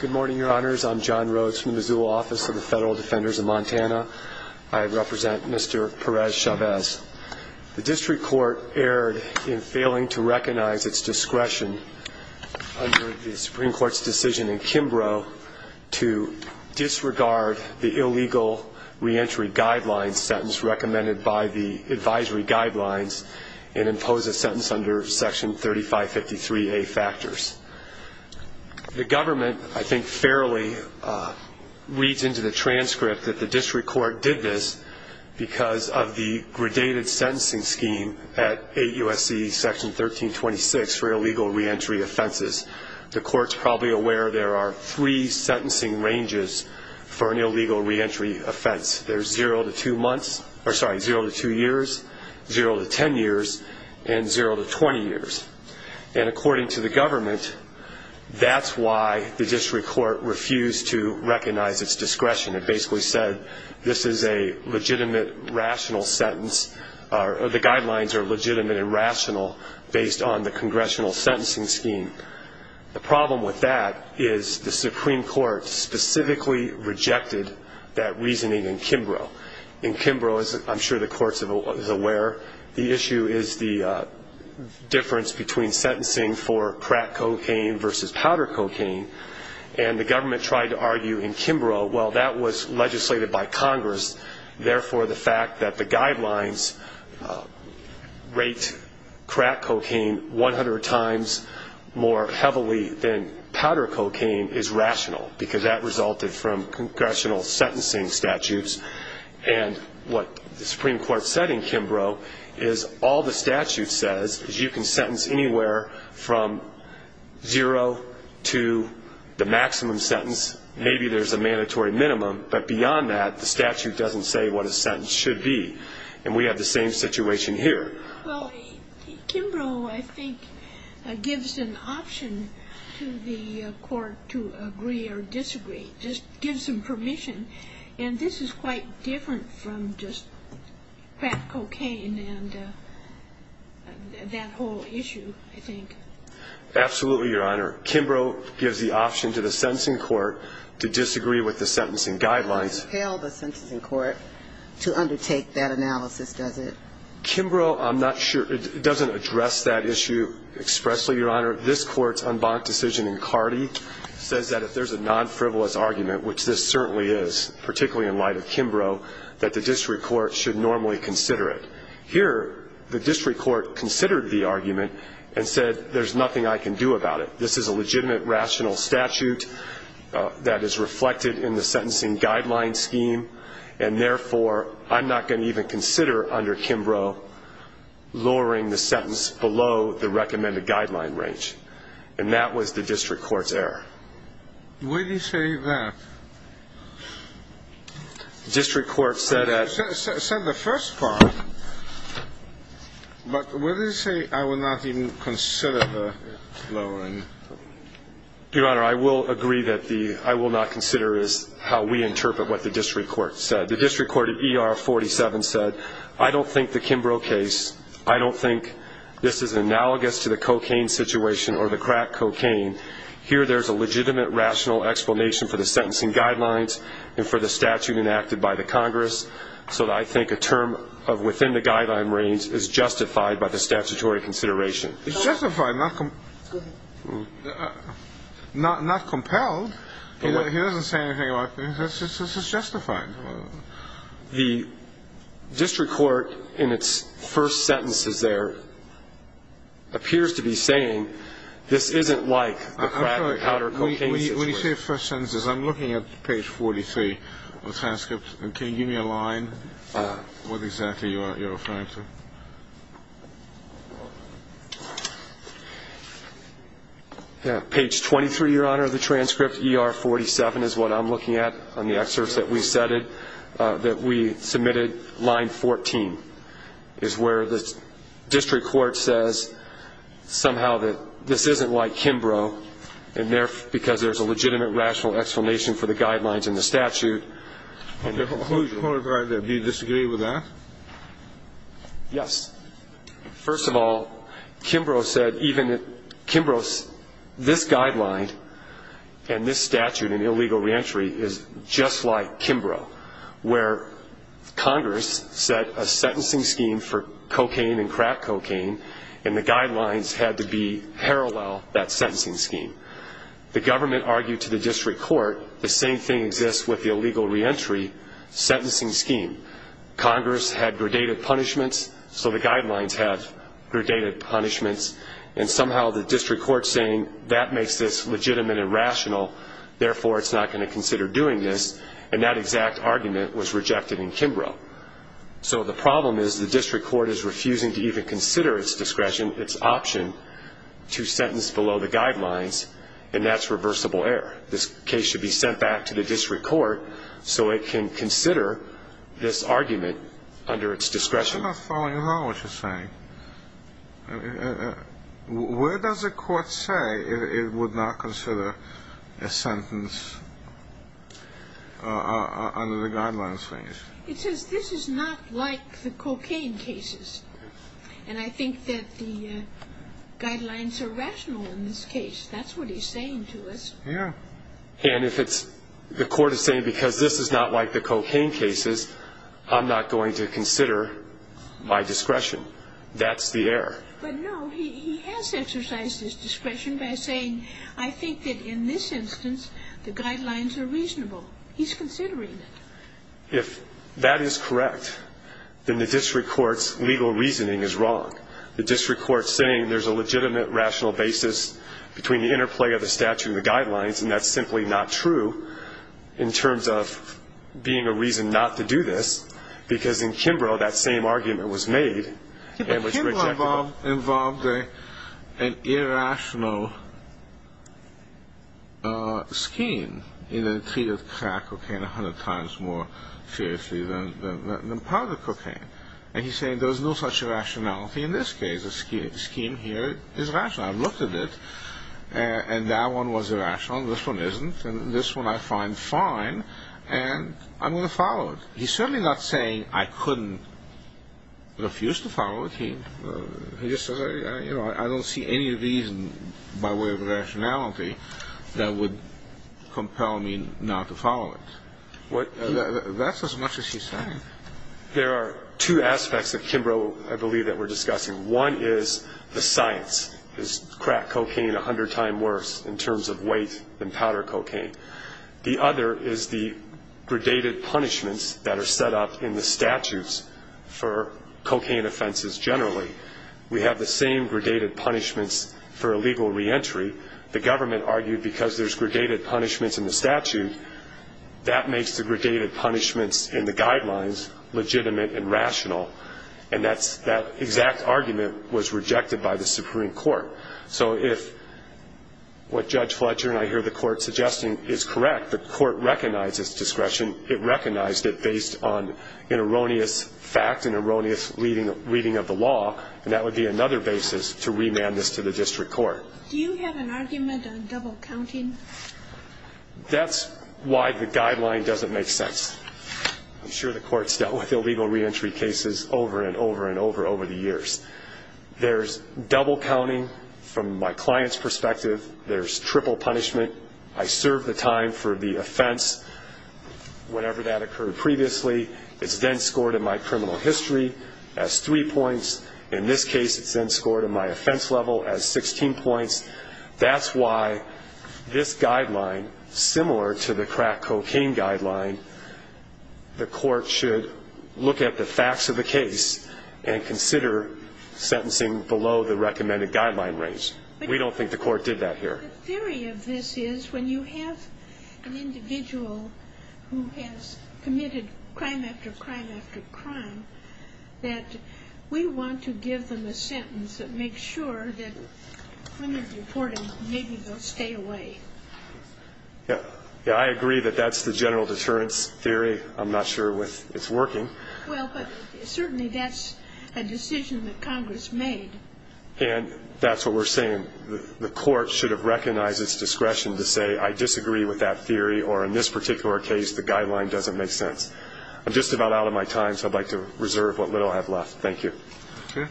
Good morning, Your Honors. I'm John Rhodes from the Missoula Office of the Federal Defenders of Montana. I represent Mr. Perez-Chavez. The District Court erred in failing to recognize its discretion under the Supreme Court's decision in Kimbrough to disregard the illegal reentry guidelines and impose a sentence under Section 3553A factors. The government, I think, fairly reads into the transcript that the District Court did this because of the gradated sentencing scheme at 8 U.S.C. Section 1326 for illegal reentry offenses. The Court's probably aware there are three sentencing ranges for an illegal reentry offense. There's 0 to 2 years, 0 to 10 years, and 0 to 20 years. And according to the government, that's why the District Court refused to recognize its discretion. It basically said this is a legitimate, rational sentence, or the guidelines are legitimate and rational based on the Congressional sentencing scheme. The problem with that is the Supreme Court specifically rejected that reasoning in Kimbrough. In Kimbrough, as I'm sure the Court is aware, the issue is the difference between sentencing for crack cocaine versus powder cocaine. And the government tried to argue in Kimbrough, well, that was legislated by Congress, therefore the fact that the guidelines rate crack cocaine 100 times higher than powder cocaine. And the Supreme Court rejected that because that resulted from Congressional sentencing statutes. And what the Supreme Court said in Kimbrough is all the statute says is you can sentence anywhere from 0 to the maximum sentence. Maybe there's a mandatory minimum, but beyond that, the statute doesn't say what a sentence should be. And we have the same situation here. Well, Kimbrough, I think, gives an option to the Court to agree or disagree. Just gives them permission. And this is quite different from just crack cocaine and that whole issue, I think. Absolutely, Your Honor. Kimbrough gives the option to the sentencing court to disagree with the sentencing guidelines. Does it compel the sentencing court to undertake that analysis, does it? Kimbrough, I'm not sure, it doesn't address that issue expressly, Your Honor. This Court's unbunked decision in Cardi says that if there's a non-frivolous argument, which this certainly is, particularly in light of Kimbrough, that the district court should normally consider it. Here, the district court considered the argument and said there's nothing I can do about it. This is a legitimate rational statute that is reflected in the guideline scheme, and therefore, I'm not going to even consider under Kimbrough lowering the sentence below the recommended guideline range. And that was the district court's error. Where do you say that? The district court said at the first part. But where do you say I will not even consider the lowering? Your Honor, I will agree that the I will not consider is how we interpret what the district court said. The district court at ER 47 said, I don't think the Kimbrough case, I don't think this is analogous to the cocaine situation or the crack cocaine. Here, there's a legitimate rational explanation for the sentencing guidelines and for the statute enacted by the Congress, so I think a term of within the guideline range is justified by the district court. But the district court, not compelled, he doesn't say anything about this. This is justified. The district court in its first sentences there appears to be saying this isn't like the crack or the cocaine situation. When you say first sentences, I'm looking at page 43 of the transcript. Can you give me a line, what exactly you're referring to? Page 23, Your Honor, of the transcript, ER 47 is what I'm looking at on the excerpts that we said, that we submitted, line 14, is where the district court says somehow that this isn't like Kimbrough, because there's a legitimate rational explanation for the crime. There's a legitimate rational explanation for the guidelines and the statute. Do you disagree with that? Yes. First of all, Kimbrough said even at Kimbrough's, this guideline and this statute in illegal reentry is just like Kimbrough, where Congress set a sentencing scheme for cocaine and crack cocaine, and the guidelines had to be parallel, that sentencing scheme. When it came to the district court, the same thing exists with the illegal reentry sentencing scheme. Congress had gradated punishments, so the guidelines have gradated punishments, and somehow the district court is saying that makes this legitimate and rational, therefore it's not going to consider doing this, and that exact argument was rejected in Kimbrough. So the problem is the district court is refusing to even consider its discretion, its option, to sentence below the guidelines, and that's irreversible error. This case should be sent back to the district court so it can consider this argument under its discretion. I'm not following at all what you're saying. Where does the court say it would not consider a sentence under the guidelines thing? It says this is not like the cocaine cases, and I think that the guidelines are rational in this case. That's what he's saying to us. And if the court is saying because this is not like the cocaine cases, I'm not going to consider my discretion. That's the error. But no, he has exercised his discretion by saying I think that in this instance the guidelines are reasonable. He's considering it. If that is correct, then the district court's legal reasoning is wrong. The district court's saying there's a legitimate, rational basis between the interplay of the statute and the guidelines, and that's simply not true in terms of being a reason not to do this, because in Kimbrough that same argument was made and was rejected. But Kimbrough involved an irrational scheme in the treat of crack cocaine 100 times more than in Kimbrough. And he's saying there's no such rationality in this case. The scheme here is rational. I've looked at it, and that one was irrational. This one isn't, and this one I find fine, and I'm going to follow it. He's certainly not saying I couldn't refuse to follow it. He just says I don't see any reason by way of rationality that would compel me not to follow it. That's as much as he's saying. There are two aspects of Kimbrough, I believe, that we're discussing. One is the science. Is crack cocaine 100 times worse in terms of weight than powder cocaine? The other is the gradated punishments that are set up in the statutes for cocaine offenses generally. We have the same gradated punishments for illegal reentry. The government argued because there's gradated punishments in the statute, that makes the gradated punishments in the guidelines legitimate and rational. And that exact argument was rejected by the Supreme Court. So if what Judge Fletcher and I hear the Court suggesting is correct, the Court recognizes discretion. It recognized it based on an erroneous fact, an erroneous reading of the law, and that would be another basis to remand this to the district court. Do you have an argument on double counting? That's why the guideline doesn't make sense. I'm sure the Court's dealt with illegal reentry cases over and over and over and over the years. There's double counting from my client's perspective. There's triple punishment. I serve the time for the offense whenever that occurred previously. It's then scored in my criminal history as three points. In this case, it's then scored in my offense level as 16 points. That's why this guideline, similar to the crack cocaine guideline, the Court should look at the facts of the case and consider sentencing below the recommended guideline range. We don't think the Court did that here. The theory of this is when you have an individual who has committed crime after crime after crime, that we want to give them a sentence that makes sure that when they're deported, maybe they'll stay away. Yeah, I agree that that's the general deterrence theory. I'm not sure it's working. Well, but certainly that's a decision that Congress made. And that's what we're saying. The Court should have recognized its discretion to say, I disagree with that theory, or in this particular case, the guideline doesn't make sense. I'm just about out of my time, so I'd like to reserve what little I have left. Thank you. Okay.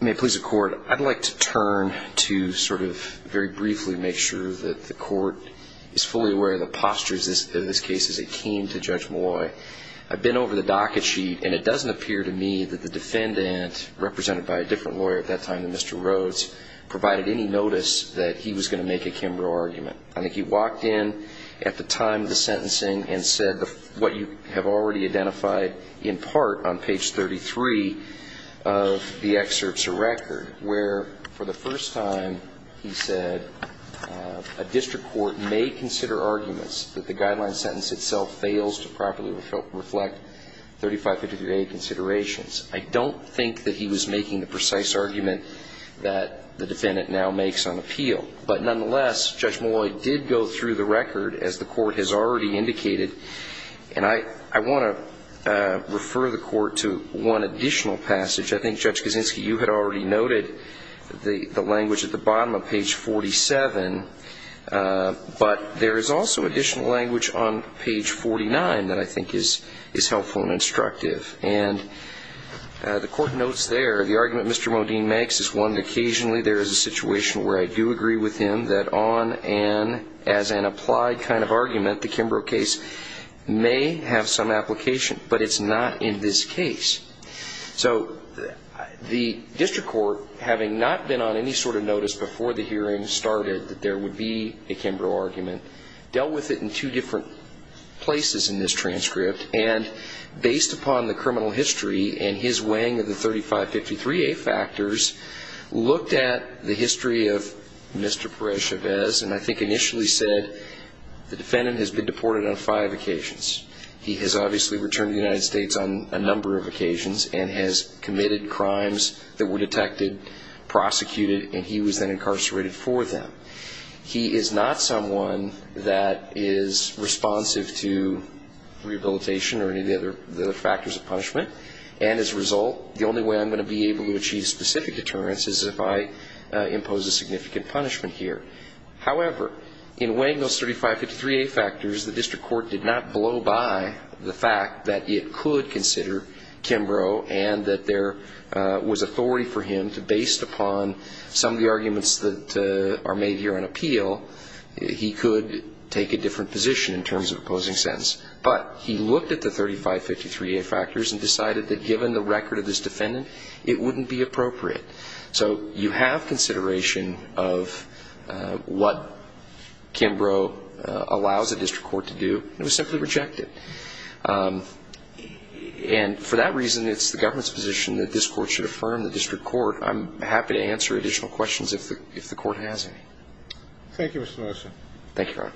May it please the Court, I'd like to turn to sort of very briefly make sure that the Court is fully aware of the postures of this case as it came to Judge Molloy. I've been over the docket sheet, and it doesn't appear to me that the defendant, represented by a different lawyer at that time than Mr. Rhodes, provided any notice that he was going to make a Kimbrough argument. I think he walked in at the time of the sentencing and said what you have already identified in part on page 33 of the excerpts or record, where for the first time he said, I don't think that he was making the precise argument that the defendant now makes on appeal. But nonetheless, Judge Molloy did go through the record, as the Court has already indicated. And I want to refer the Court to one additional passage. I think, Judge Kaczynski, you had already noted the language at the bottom of page 46. Page 47. But there is also additional language on page 49 that I think is helpful and instructive. And the Court notes there, the argument Mr. Modine makes is one that occasionally there is a situation where I do agree with him that on and as an applied kind of argument, the Kimbrough case may have some application. But it's not in this case. So the District Court, having not been on any sort of notice before the hearing started that there would be a Kimbrough argument, dealt with it in two different places in this transcript. And based upon the criminal history and his weighing of the 3553A factors, looked at the history of Mr. Perez-Chavez and I think initially said the defendant has been deported on five occasions. He has obviously returned to the United States on a number of occasions and has committed crimes that were detected, prosecuted, and he was then incarcerated for them. He is not someone that is responsive to rehabilitation or any of the other factors of punishment. And as a result, the only way I'm going to be able to achieve specific deterrence is if I impose a significant punishment here. However, in weighing those 3553A factors, the District Court did not blow by the fact that it could consider Kimbrough and that there was authority for him to, based upon some of the arguments that are made here on appeal, he could take a different position in terms of opposing sentence. But he looked at the 3553A factors and decided that given the record of this defendant, it wouldn't be appropriate. So you have consideration of what Kimbrough allows the District Court to do. It was simply rejected. And for that reason, it's the government's position that this Court should affirm the District Court. I'm happy to answer additional questions if the Court has any. Thank you, Mr. Nelson. Thank you, Your Honor.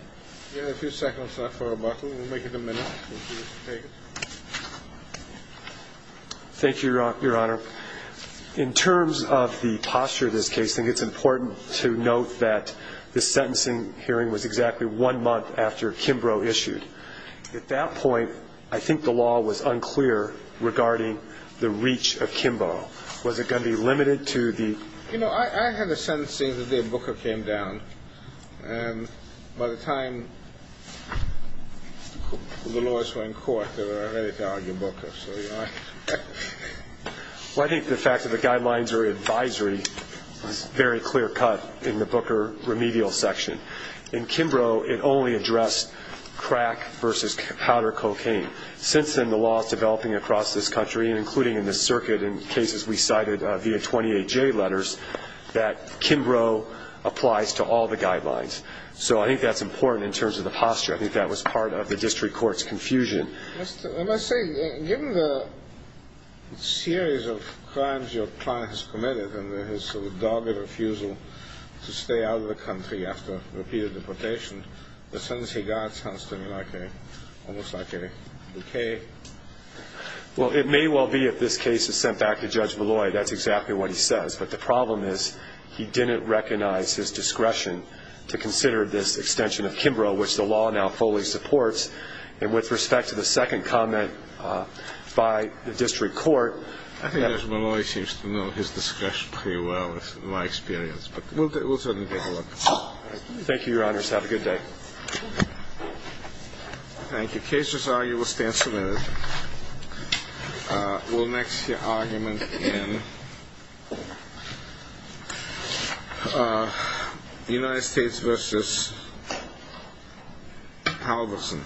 Thank you, Your Honor. In terms of the posture of this case, I think it's important to note that the sentencing hearing was exactly one month after Kimbrough issued. At that point, I think the law was unclear regarding the reach of Kimbrough. Was it going to be limited to the ---- By the time the lawyers were in court, they were ready to argue Booker. Well, I think the fact that the guidelines are advisory was very clear-cut in the Booker remedial section. In Kimbrough, it only addressed crack versus powder cocaine. Since then, the law is developing across this country, including in this circuit and cases we cited via 28J letters, that Kimbrough applies to all the guidelines. So I think that's important in terms of the posture. I think that was part of the District Court's confusion. I must say, given the series of crimes your client has committed and his sort of dogged refusal to stay out of the country after repeated deportation, the sentence he got sounds to me like almost like a bouquet. Well, it may well be, if this case is sent back to Judge Malloy, that's exactly what he says. But the problem is he didn't recognize his discretion to consider this extension of Kimbrough, which the law now fully supports. And with respect to the second comment by the District Court- I think Judge Malloy seems to know his discretion pretty well, in my experience. But we'll certainly take a look. Thank you, Your Honors. Have a good day. Thank you. Case is argued. We'll stand submitted. We'll next hear argument in United States v. Halverson.